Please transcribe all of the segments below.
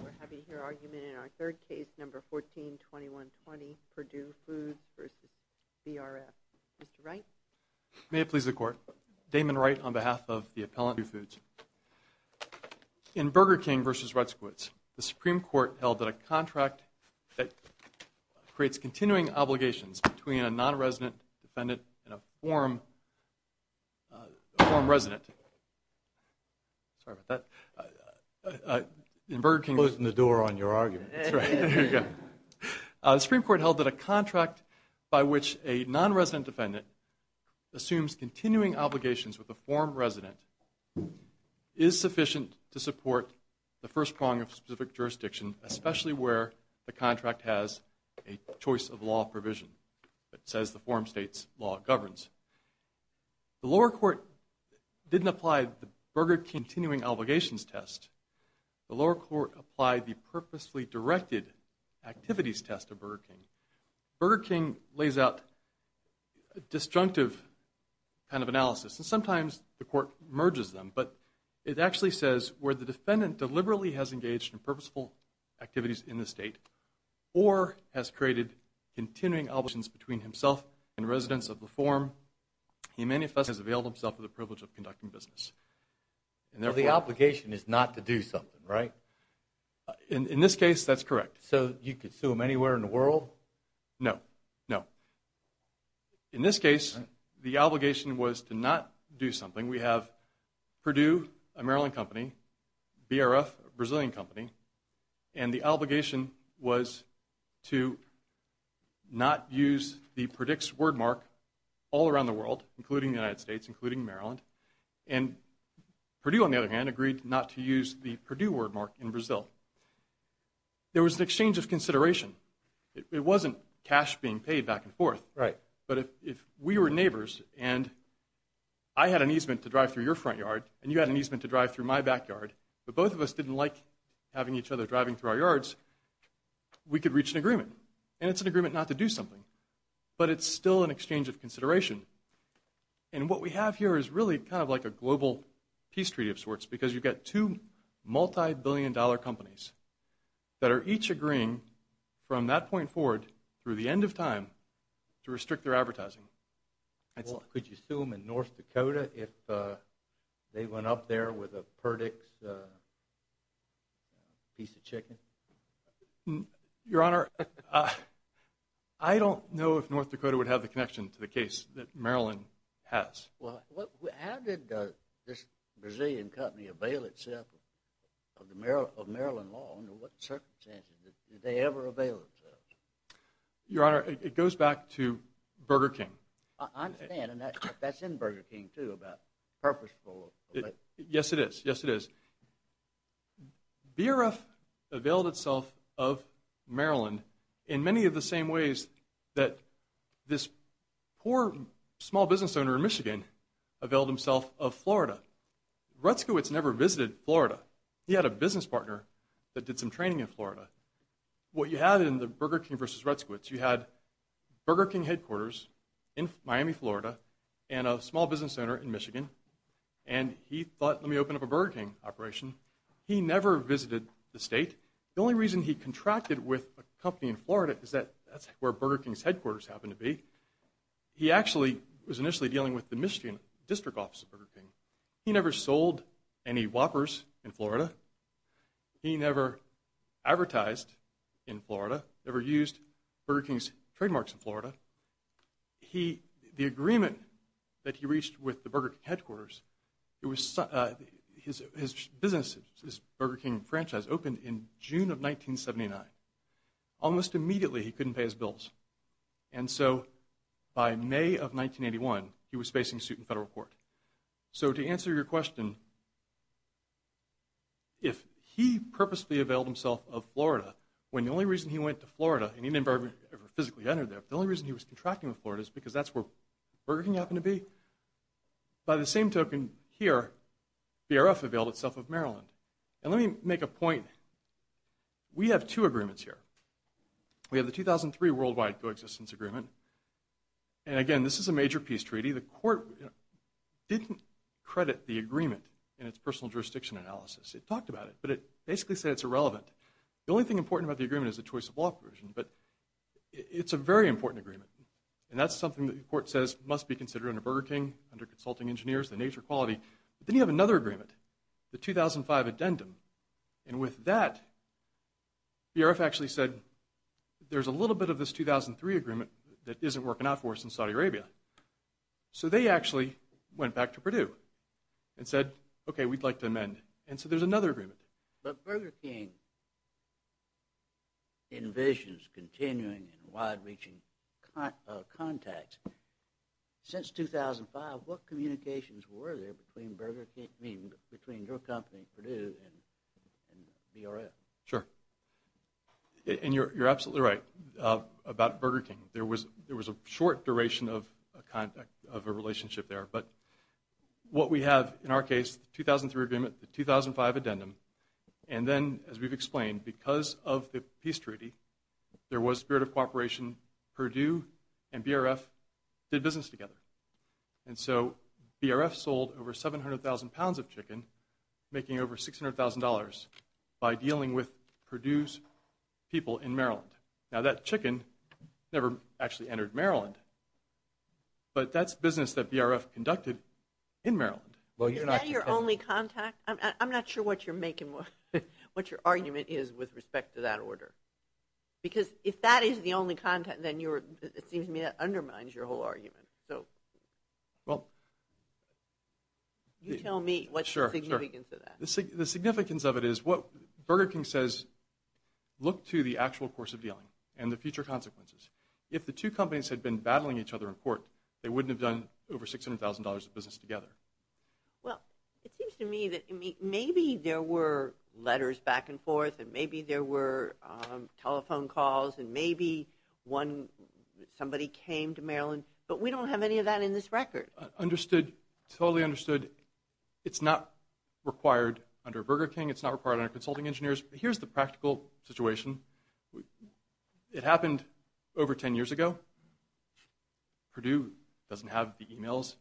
We're happy to hear argument in our third case, number 14-2120, Purdue Foods v. BRF. Mr. Wright? May it please the Court. Damon Wright on behalf of the appellant at Purdue Foods. In Burger King v. Rutzquitz, the Supreme Court held that a contract that creates continuing obligations between a non-resident defendant and a form resident. Sorry about that. Closing the door on your argument. The Supreme Court held that a contract by which a non-resident defendant assumes continuing obligations with a form resident is sufficient to support the first prong of a specific jurisdiction, especially where the contract has a choice of law provision that says the form state's law governs. The lower court didn't apply the Burger King continuing obligations test. The lower court applied the purposefully directed activities test of Burger King. Burger King lays out a disjunctive kind of analysis, and sometimes the court merges them, but it actually says where the defendant deliberately has engaged in purposeful activities in the state or has created continuing obligations between himself and residents of the form, he manifestly has availed himself of the privilege of conducting business. So the obligation is not to do something, right? In this case, that's correct. So you could sue him anywhere in the world? No, no. In this case, the obligation was to not do something. We have Purdue, a Maryland company, BRF, a Brazilian company, and the obligation was to not use the PREDICTS wordmark all around the world, including the United States, including Maryland, and Purdue, on the other hand, agreed not to use the Purdue wordmark in Brazil. There was an exchange of consideration. It wasn't cash being paid back and forth, but if we were neighbors and I had an easement to drive through your front yard and you had an easement to drive through my backyard, but both of us didn't like having each other driving through our yards, we could reach an agreement, and it's an agreement not to do something, but it's still an exchange of consideration. And what we have here is really kind of like a global peace treaty of sorts because you've got two multibillion-dollar companies that are each agreeing from that point forward through the end of time to restrict their advertising. Could you sue them in North Dakota if they went up there with a PREDICTS piece of chicken? Your Honor, I don't know if North Dakota would have the connection to the case. Well, how did this Brazilian company avail itself of Maryland law? Under what circumstances did they ever avail themselves? Your Honor, it goes back to Burger King. I understand, and that's in Burger King, too, about purposeful. Yes, it is. Yes, it is. BRF availed itself of Maryland in many of the same ways that this poor small business owner in Michigan availed himself of Florida. Retzkowitz never visited Florida. He had a business partner that did some training in Florida. What you had in the Burger King versus Retzkowitz, you had Burger King headquarters in Miami, Florida, and a small business owner in Michigan, and he thought, let me open up a Burger King operation. He never visited the state. The only reason he contracted with a company in Florida is that that's where Burger King's headquarters happened to be. He actually was initially dealing with the Michigan district office of Burger King. He never sold any Whoppers in Florida. He never advertised in Florida, never used Burger King's trademarks in Florida. The agreement that he reached with the Burger King headquarters, his business, his Burger King franchise, opened in June of 1979. Almost immediately, he couldn't pay his bills. And so by May of 1981, he was facing suit in federal court. So to answer your question, if he purposely availed himself of Florida, when the only reason he went to Florida, and he never ever physically entered there, the only reason he was contracting with Florida is because that's where Burger King happened to be, by the same token here, BRF availed itself of Maryland. And let me make a point. We have two agreements here. We have the 2003 worldwide coexistence agreement. And again, this is a major peace treaty. The court didn't credit the agreement in its personal jurisdiction analysis. It talked about it, but it basically said it's irrelevant. The only thing important about the agreement is the choice of law provision, but it's a very important agreement. And that's something that the court says must be considered under Burger King, under consulting engineers, the nature of quality. But then you have another agreement, the 2005 addendum. And with that, BRF actually said, there's a little bit of this 2003 agreement that isn't working out for us in Saudi Arabia. So they actually went back to Purdue and said, okay, we'd like to amend. And so there's another agreement. But Burger King envisions continuing and wide-reaching contacts. Since 2005, what communications were there between Burger King, between your company, Purdue, and BRF? Sure. And you're absolutely right about Burger King. There was a short duration of a relationship there. But what we have in our case, the 2003 agreement, the 2005 addendum, and then, as we've explained, because of the peace treaty, there was spirit of cooperation. Purdue and BRF did business together. And so BRF sold over 700,000 pounds of chicken, making over $600,000 by dealing with Purdue's people in Maryland. Now, that chicken never actually entered Maryland. But that's business that BRF conducted in Maryland. Is that your only contact? I'm not sure what your argument is with respect to that order. Because if that is the only contact, then it seems to me that undermines your whole argument. So you tell me what's the significance of that. The significance of it is what Burger King says, look to the actual course of dealing and the future consequences. If the two companies had been battling each other in court, they wouldn't have done over $600,000 of business together. Well, it seems to me that maybe there were letters back and forth and maybe there were telephone calls and maybe somebody came to Maryland. But we don't have any of that in this record. Understood. Totally understood. It's not required under Burger King. It's not required under consulting engineers. But here's the practical situation. It happened over 10 years ago. Purdue doesn't have the e-mails.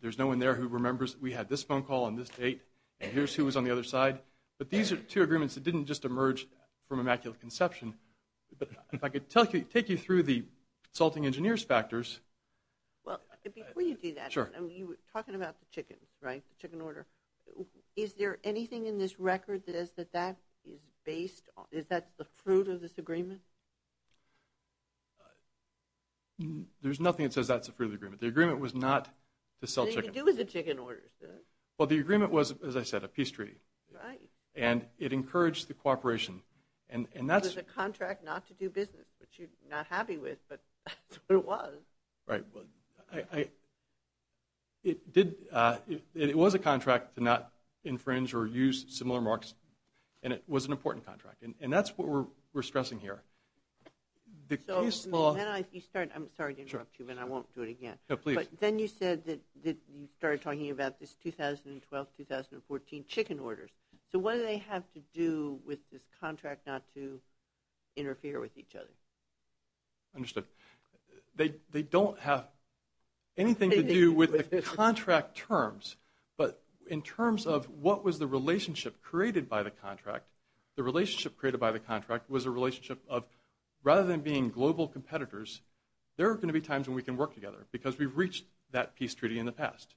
There's no one there who remembers we had this phone call on this date and here's who was on the other side. But these are two agreements that didn't just emerge from immaculate conception. But if I could take you through the consulting engineers factors. Well, before you do that, you were talking about the chicken, right, the chicken order. Is there anything in this record that says that that is based on, is that the fruit of this agreement? There's nothing that says that's the fruit of the agreement. The agreement was not to sell chicken. What did it have to do with the chicken order? Well, the agreement was, as I said, a peace treaty. Right. And it encouraged the cooperation. It was a contract not to do business, which you're not happy with, but that's what it was. Right. It was a contract to not infringe or use similar marks and it was an important contract. And that's what we're stressing here. The case law. I'm sorry to interrupt you, but I won't do it again. No, please. But then you said that you started talking about this 2012-2014 chicken orders. So what do they have to do with this contract not to interfere with each other? Understood. They don't have anything to do with the contract terms, but in terms of what was the relationship created by the contract, the relationship created by the contract was a relationship of, rather than being global competitors, there are going to be times when we can work together because we've reached that peace treaty in the past.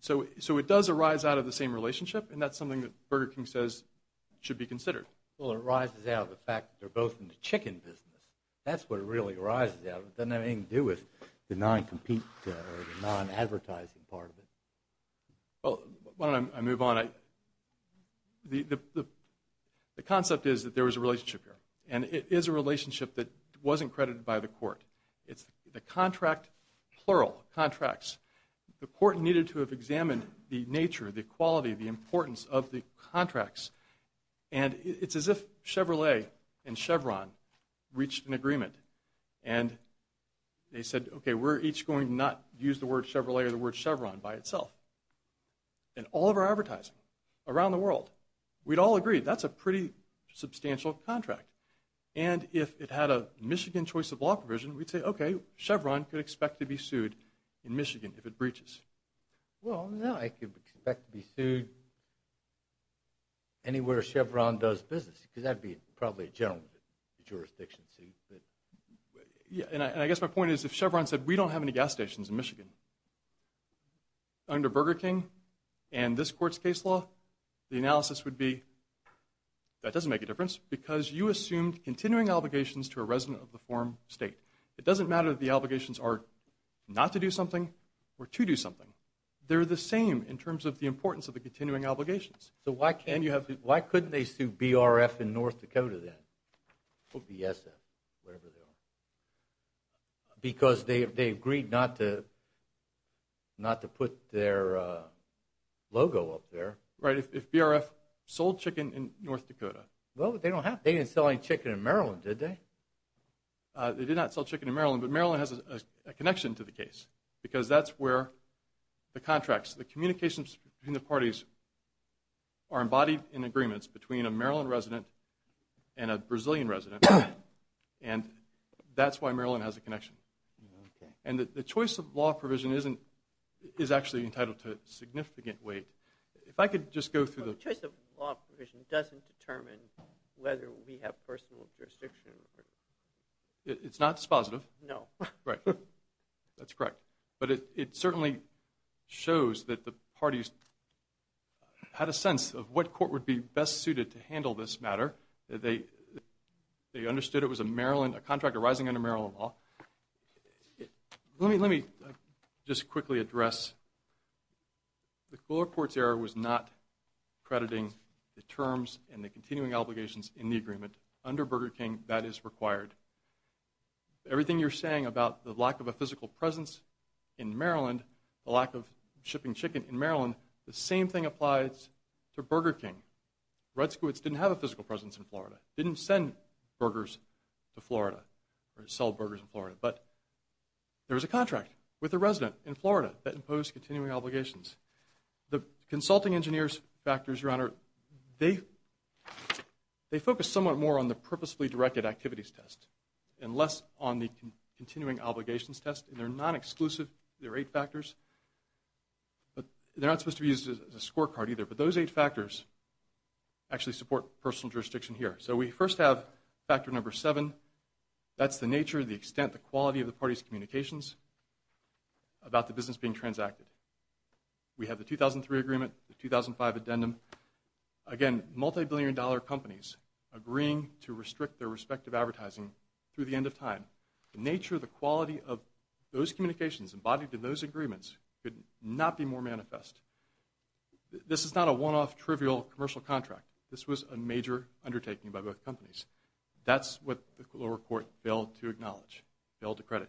So it does arise out of the same relationship, and that's something that Burger King says should be considered. Well, it arises out of the fact that they're both in the chicken business. That's what it really arises out of. It doesn't have anything to do with the non-compete or the non-advertising part of it. Why don't I move on? The concept is that there was a relationship here, and it is a relationship that wasn't credited by the court. It's the contract, plural, contracts. The court needed to have examined the nature, the quality, the importance of the contracts, and it's as if Chevrolet and Chevron reached an agreement and they said, okay, we're each going to not use the word Chevrolet or the word Chevron by itself. And all of our advertising around the world, we'd all agree, that's a pretty substantial contract. And if it had a Michigan choice of law provision, we'd say, okay, Chevron could expect to be sued in Michigan if it breaches. Well, no, it could expect to be sued anywhere Chevron does business because that would be probably a general jurisdiction suit. And I guess my point is if Chevron said we don't have any gas stations in Michigan, under Burger King and this court's case law, the analysis would be that doesn't make a difference because you assumed continuing obligations to a resident of the form state. It doesn't matter if the obligations are not to do something or to do something. They're the same in terms of the importance of the continuing obligations. So why couldn't they sue BRF in North Dakota then or BSF, whatever they are? Because they agreed not to put their logo up there. Right, if BRF sold chicken in North Dakota. Well, they didn't sell any chicken in Maryland, did they? They did not sell chicken in Maryland, but Maryland has a connection to the case because that's where the contracts, the communications between the parties are embodied in agreements between a Maryland resident and a Brazilian resident. And that's why Maryland has a connection. And the choice of law provision is actually entitled to a significant weight. If I could just go through the… The choice of law provision doesn't determine whether we have personal jurisdiction. It's not dispositive. No. Right. That's correct. But it certainly shows that the parties had a sense of what court would be best suited to handle this matter. They understood it was a contract arising under Maryland law. Let me just quickly address the court's error was not crediting the terms and the continuing obligations in the agreement. Under Burger King, that is required. Everything you're saying about the lack of a physical presence in Maryland, the lack of shipping chicken in Maryland, the same thing applies to Burger King. Red Squids didn't have a physical presence in Florida. Didn't send burgers to Florida or sell burgers in Florida. But there was a contract with a resident in Florida that imposed continuing obligations. The consulting engineer's factors, Your Honor, they focus somewhat more on the purposefully directed activities test and less on the continuing obligations test. They're non-exclusive. There are eight factors. They're not supposed to be used as a scorecard either, but those eight factors actually support personal jurisdiction here. So we first have factor number seven. That's the nature, the extent, the quality of the parties' communications about the business being transacted. We have the 2003 agreement, the 2005 addendum. Again, multibillion-dollar companies agreeing to restrict their respective advertising through the end of time. The nature, the quality of those communications embodied in those agreements could not be more manifest. This is not a one-off, trivial commercial contract. This was a major undertaking by both companies. That's what the lower court failed to acknowledge, failed to credit.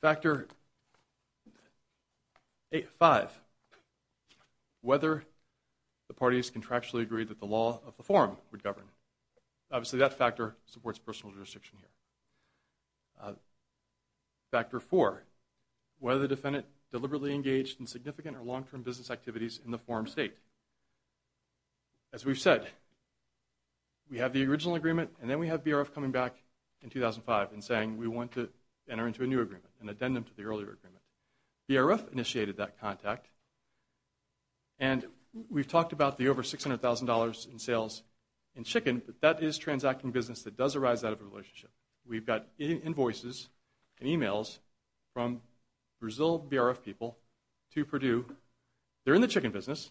Factor five, whether the parties contractually agreed that the law of the forum would govern. Obviously that factor supports personal jurisdiction here. Factor four, whether the defendant deliberately engaged in significant or long-term business activities in the forum state. As we've said, we have the original agreement and then we have BRF coming back in 2005 and saying, we want to enter into a new agreement, an addendum to the earlier agreement. BRF initiated that contact, and we've talked about the over $600,000 in sales in chicken, but that is transacting business that does arise out of a relationship. We've got invoices and emails from Brazil BRF people to Purdue. They're in the chicken business.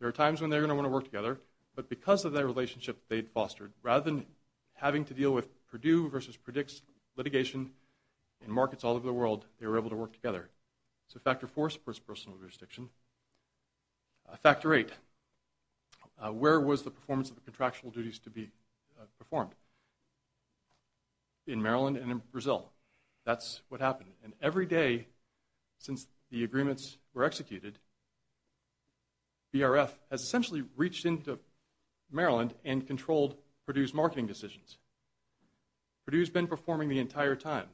There are times when they're going to want to work together, but because of that relationship they'd fostered, rather than having to deal with Purdue versus Predix litigation in markets all over the world, they were able to work together. So factor four supports personal jurisdiction. Factor eight, where was the performance of the contractual duties to be performed? In Maryland and in Brazil. And every day since the agreements were executed, BRF has essentially reached into Maryland and controlled Purdue's marketing decisions. Purdue's been performing the entire time.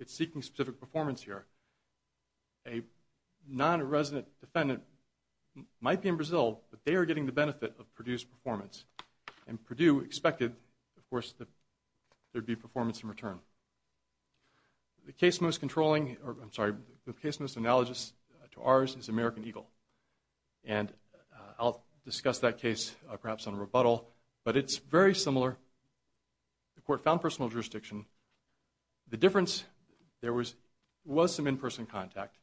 It's seeking specific performance here. A non-resident defendant might be in Brazil, but they are getting the benefit of Purdue's performance, and Purdue expected, of course, that there'd be performance in return. The case most controlling, or I'm sorry, the case most analogous to ours is American Eagle. And I'll discuss that case perhaps in a rebuttal, but it's very similar. The court found personal jurisdiction. The difference, there was some in-person contact.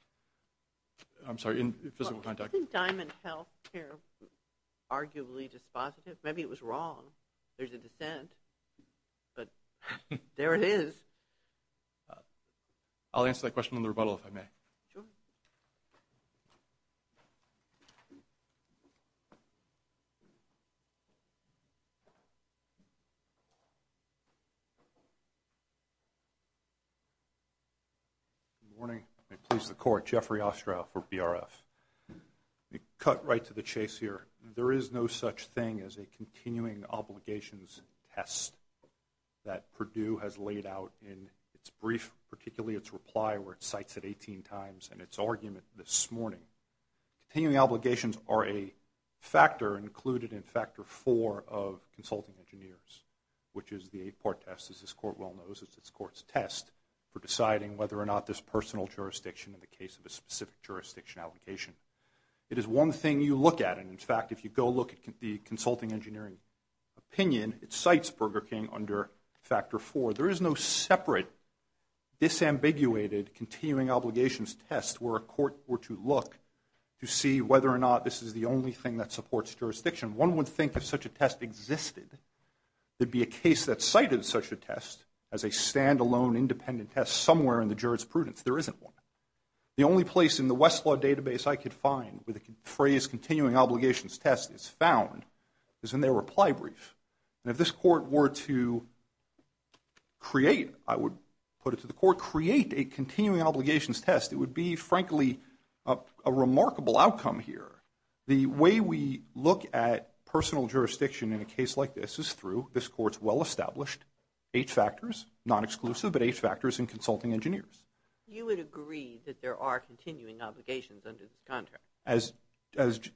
I'm sorry, in physical contact. Isn't Diamond Healthcare arguably dispositive? Maybe it was wrong. There's a dissent, but there it is. I'll answer that question in the rebuttal if I may. Sure. Good morning. I please the court. Jeffrey Ostrow for BRF. Cut right to the chase here. There is no such thing as a continuing obligations test that Purdue has laid out in its brief, particularly its reply, where it cites it 18 times, and its argument this morning. Continuing obligations are a factor included in factor four of consulting engineers, which is the eight-part test, as this court well knows. It's this court's test for deciding whether or not this personal jurisdiction in the case of a specific jurisdiction obligation. It is one thing you look at, and, in fact, if you go look at the consulting engineering opinion, it cites Burger King under factor four. There is no separate disambiguated continuing obligations test where a court were to look to see whether or not this is the only thing that supports jurisdiction. One would think if such a test existed, there'd be a case that cited such a test as a standalone independent test somewhere in the jurisprudence. There isn't one. The only place in the Westlaw database I could find where the phrase continuing obligations test is found is in their reply brief. And if this court were to create, I would put it to the court, create a continuing obligations test, it would be, frankly, a remarkable outcome here. The way we look at personal jurisdiction in a case like this is through this court's well-established eight factors, non-exclusive but eight factors in consulting engineers. You would agree that there are continuing obligations under this contract? As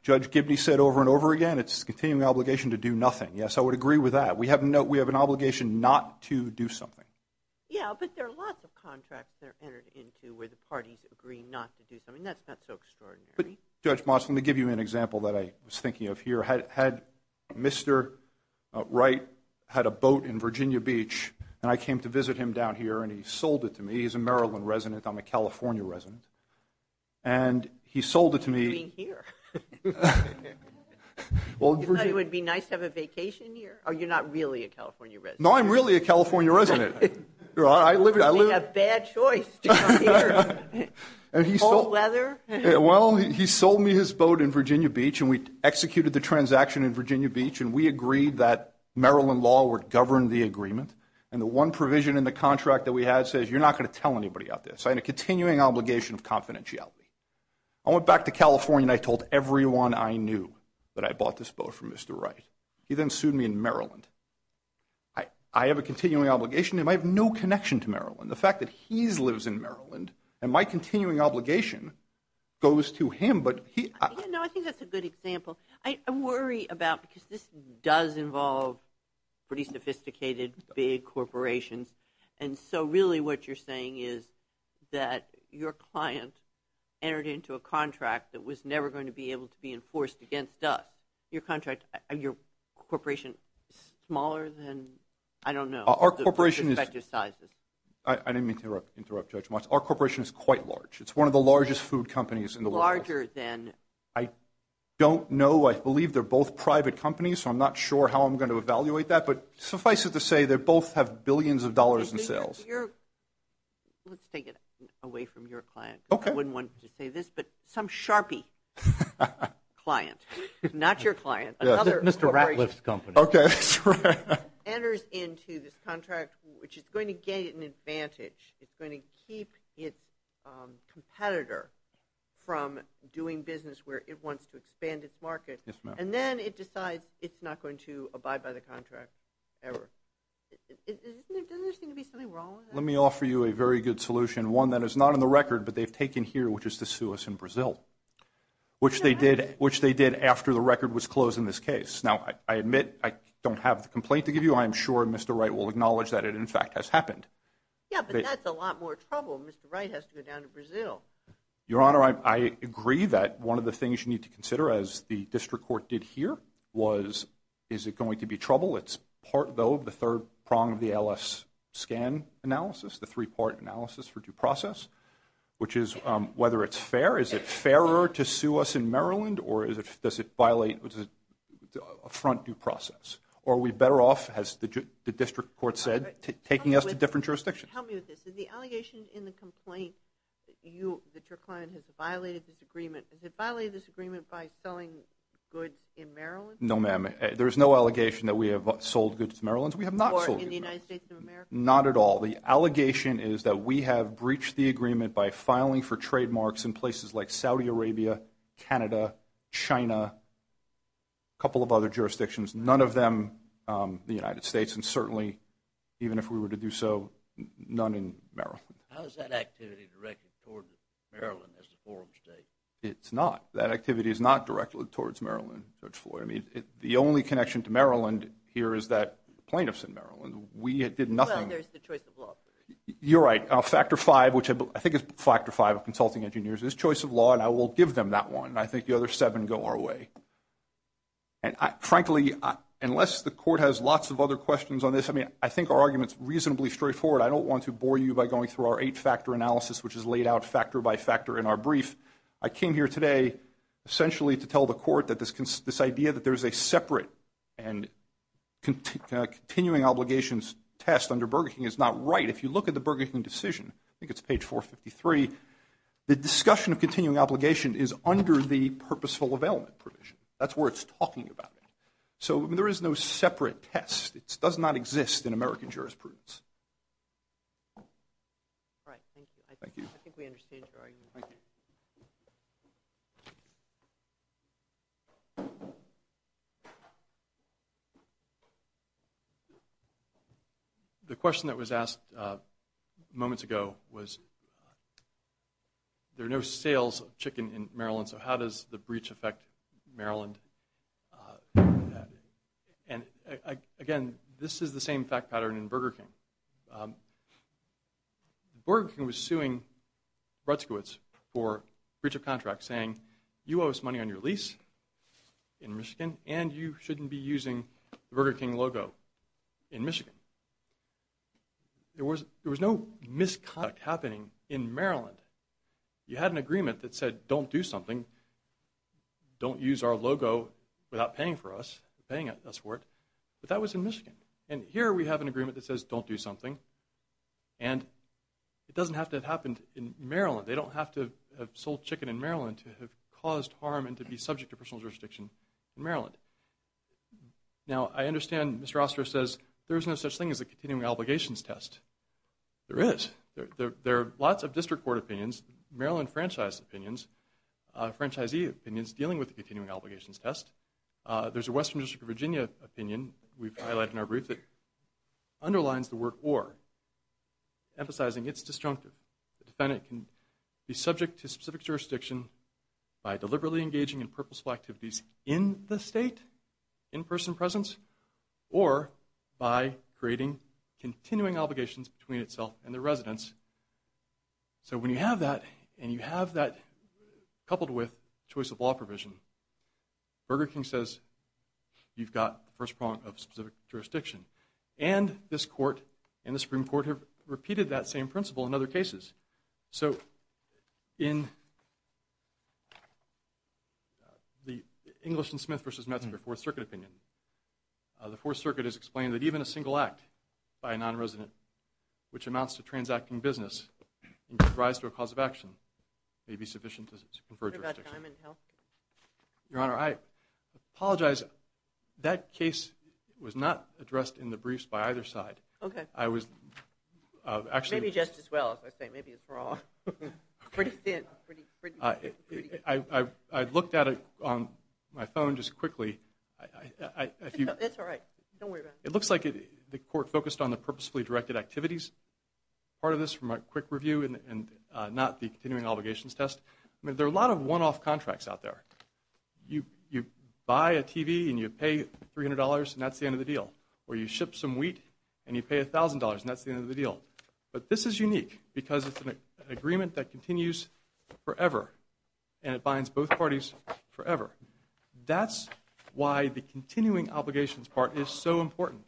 Judge Gibney said over and over again, it's a continuing obligation to do nothing. Yes, I would agree with that. We have an obligation not to do something. Yeah, but there are lots of contracts that are entered into where the parties agree not to do something. That's not so extraordinary. Judge Moss, let me give you an example that I was thinking of here. Had Mr. Wright had a boat in Virginia Beach and I came to visit him down here and he sold it to me. He's a Maryland resident. I'm a California resident. And he sold it to me. You're being here. You thought it would be nice to have a vacation here? Oh, you're not really a California resident. No, I'm really a California resident. I live here. You made a bad choice to come here. Cold weather. Well, he sold me his boat in Virginia Beach, and we executed the transaction in Virginia Beach, and we agreed that Maryland law would govern the agreement. And the one provision in the contract that we had says you're not going to tell anybody about this. I had a continuing obligation of confidentiality. I went back to California and I told everyone I knew that I bought this boat from Mr. Wright. He then sued me in Maryland. I have a continuing obligation, and I have no connection to Maryland. The fact that he lives in Maryland and my continuing obligation goes to him. No, I think that's a good example. I worry about, because this does involve pretty sophisticated big corporations, and so really what you're saying is that your client entered into a contract that was never going to be able to be enforced against us. Your contract, your corporation is smaller than, I don't know. Our corporation is quite large. It's one of the largest food companies in the world. Larger than? I don't know. I believe they're both private companies, so I'm not sure how I'm going to evaluate that. But suffice it to say, they both have billions of dollars in sales. Let's take it away from your client. Okay. I wouldn't want to say this, but some Sharpie client, not your client, another corporation. Mr. Ratliff's company. Okay. Enters into this contract, which is going to get an advantage. It's going to keep its competitor from doing business where it wants to expand Yes, ma'am. And then it decides it's not going to abide by the contract ever. Doesn't there seem to be something wrong with that? Let me offer you a very good solution, one that is not in the record, but they've taken here, which is to sue us in Brazil, which they did after the record was closed in this case. Now, I admit I don't have the complaint to give you. I'm sure Mr. Wright will acknowledge that it, in fact, has happened. Yeah, but that's a lot more trouble. Mr. Wright has to go down to Brazil. Your Honor, I agree that one of the things you need to consider, as the district court did here, was is it going to be trouble? It's part, though, of the third prong of the ALS scan analysis, the three-part analysis for due process, which is whether it's fair. Is it fairer to sue us in Maryland, or does it violate a front due process? Or are we better off, as the district court said, taking us to different jurisdictions? Help me with this. Is the allegation in the complaint that your client has violated this agreement, has it violated this agreement by selling goods in Maryland? No, ma'am. There is no allegation that we have sold goods to Maryland. We have not sold goods to Maryland. Or in the United States of America? Not at all. The allegation is that we have breached the agreement by filing for trademarks in places like Saudi Arabia, Canada, China, a couple of other jurisdictions. None of them the United States. And certainly, even if we were to do so, none in Maryland. How is that activity directed towards Maryland as the forum state? It's not. That activity is not directed towards Maryland, Judge Floyd. I mean, the only connection to Maryland here is that plaintiffs in Maryland. We did nothing. Well, there's the choice of law. You're right. Factor V, which I think is Factor V of consulting engineers, is choice of law, and I will give them that one. I think the other seven go our way. And, frankly, unless the court has lots of other questions on this, I mean, I think our argument is reasonably straightforward. I don't want to bore you by going through our eight-factor analysis, which is laid out factor by factor in our brief. I came here today essentially to tell the court that this idea that there is a separate and continuing obligations test under Burger King is not right. If you look at the Burger King decision, I think it's page 453, the discussion of continuing obligation is under the purposeful availment provision. That's where it's talking about it. So there is no separate test. It does not exist in American jurisprudence. All right. Thank you. I think we understand your argument. Thank you. Thank you. The question that was asked moments ago was, there are no sales of chicken in Maryland, so how does the breach affect Maryland? And, again, this is the same fact pattern in Burger King. Burger King was suing Bretzkowitz for breach of contract, saying you owe us money on your lease in Michigan, and you shouldn't be using the Burger King logo in Michigan. There was no misconduct happening in Maryland. You had an agreement that said don't do something, don't use our logo without paying for us, paying us for it, but that was in Michigan. And here we have an agreement that says don't do something, and it doesn't have to have happened in Maryland. They don't have to have sold chicken in Maryland to have caused harm and to be subject to personal jurisdiction in Maryland. Now I understand Mr. Oster says there is no such thing as a continuing obligations test. There is. There are lots of district court opinions, Maryland franchise opinions, franchisee opinions dealing with the continuing obligations test. There's a Western District of Virginia opinion we've highlighted in our brief that underlines the word or, emphasizing it's disjunctive. The defendant can be subject to specific jurisdiction by deliberately engaging in purposeful activities in the state, in person presence, or by creating continuing obligations between itself and the residence. So when you have that, and you have that coupled with choice of law provision, Burger King says you've got the first prong of specific jurisdiction. And this court and the Supreme Court have repeated that same principle in other cases. So in the English and Smith v. Metzger Fourth Circuit opinion, the Fourth Circuit has explained that even a single act by a non-resident which amounts to transacting business and gives rise to a cause of action may be sufficient to confer jurisdiction. Your Honor, I apologize. That case was not addressed in the briefs by either side. Okay. I was actually. Maybe just as well, as I say. Maybe it's wrong. Pretty thin. I looked at it on my phone just quickly. It's all right. Don't worry about it. It looks like the court focused on the purposefully directed activities. Part of this from a quick review and not the continuing obligations test. There are a lot of one-off contracts out there. You buy a TV and you pay $300 and that's the end of the deal. Or you ship some wheat and you pay $1,000 and that's the end of the deal. But this is unique because it's an agreement that continues forever and it binds both parties forever. That's why the continuing obligations part is so important.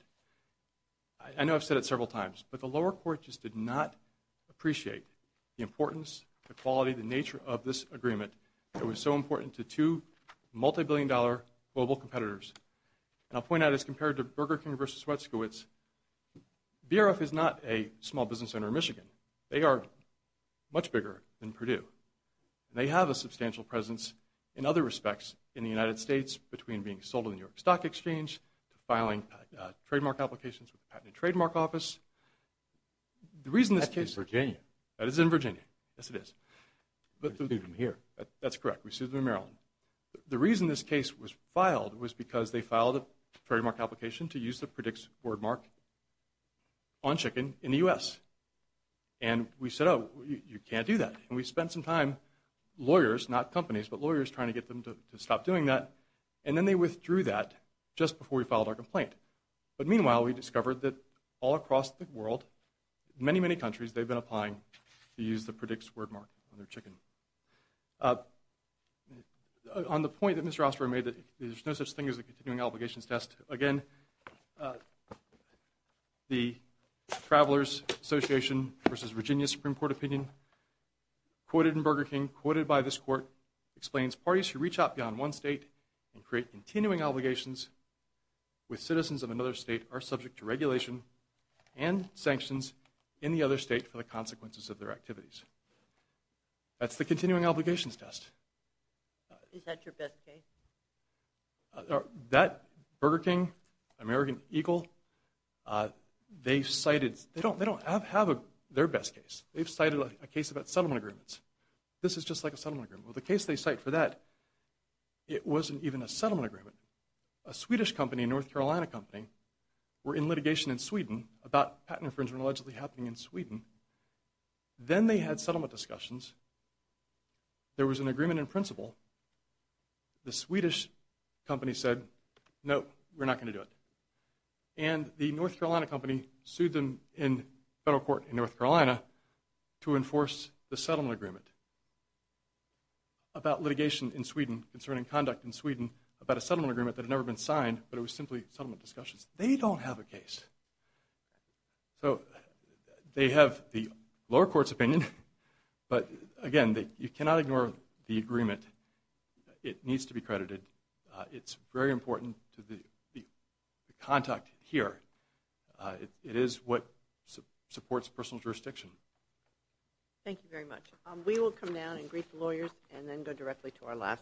I know I've said it several times, but the lower court just did not appreciate the importance, the quality, the nature of this agreement that was so important to two multi-billion dollar global competitors. And I'll point out as compared to Burger King versus Swetskowitz, BRF is not a small business center in Michigan. They are much bigger than Purdue. And they have a substantial presence in other respects in the United States between being sold in the New York Stock Exchange, filing trademark applications with the Patent and Trademark Office. The reason this case. That's in Virginia. That is in Virginia. Yes, it is. We sued them here. That's correct. We sued them in Maryland. The reason this case was filed was because they filed a trademark application to use the PREDICTS boardmark on chicken in the U.S. And we said, oh, you can't do that. And we spent some time, lawyers, not companies, but lawyers trying to get them to stop doing that, and then they withdrew that just before we filed our complaint. But meanwhile, we discovered that all across the world, many, many countries, they've been applying to use the PREDICTS boardmark on their chicken. On the point that Mr. Osprey made that there's no such thing as a continuing obligations test, again, the Travelers Association versus Virginia Supreme Court opinion quoted in Burger King, quoted by this court, explains parties who reach out beyond one state and create continuing obligations with citizens of another state are subject to regulation and sanctions in the other state for the consequences of their activities. That's the continuing obligations test. Is that your best case? That Burger King, American Eagle, they cited, they don't have their best case. They've cited a case about settlement agreements. This is just like a settlement agreement. Well, the case they cite for that, it wasn't even a settlement agreement. A Swedish company, a North Carolina company, were in litigation in Sweden about patent infringement allegedly happening in Sweden. Then they had settlement discussions. There was an agreement in principle. The Swedish company said, no, we're not going to do it. And the North Carolina company sued them in federal court in North Carolina to enforce the settlement agreement about litigation in Sweden concerning conduct in Sweden about a settlement agreement that had never been signed, but it was simply settlement discussions. They don't have a case. So they have the lower court's opinion. But, again, you cannot ignore the agreement. It needs to be credited. It's very important to the contact here. It is what supports personal jurisdiction. Thank you very much. We will come down and greet the lawyers and then go directly to our last case.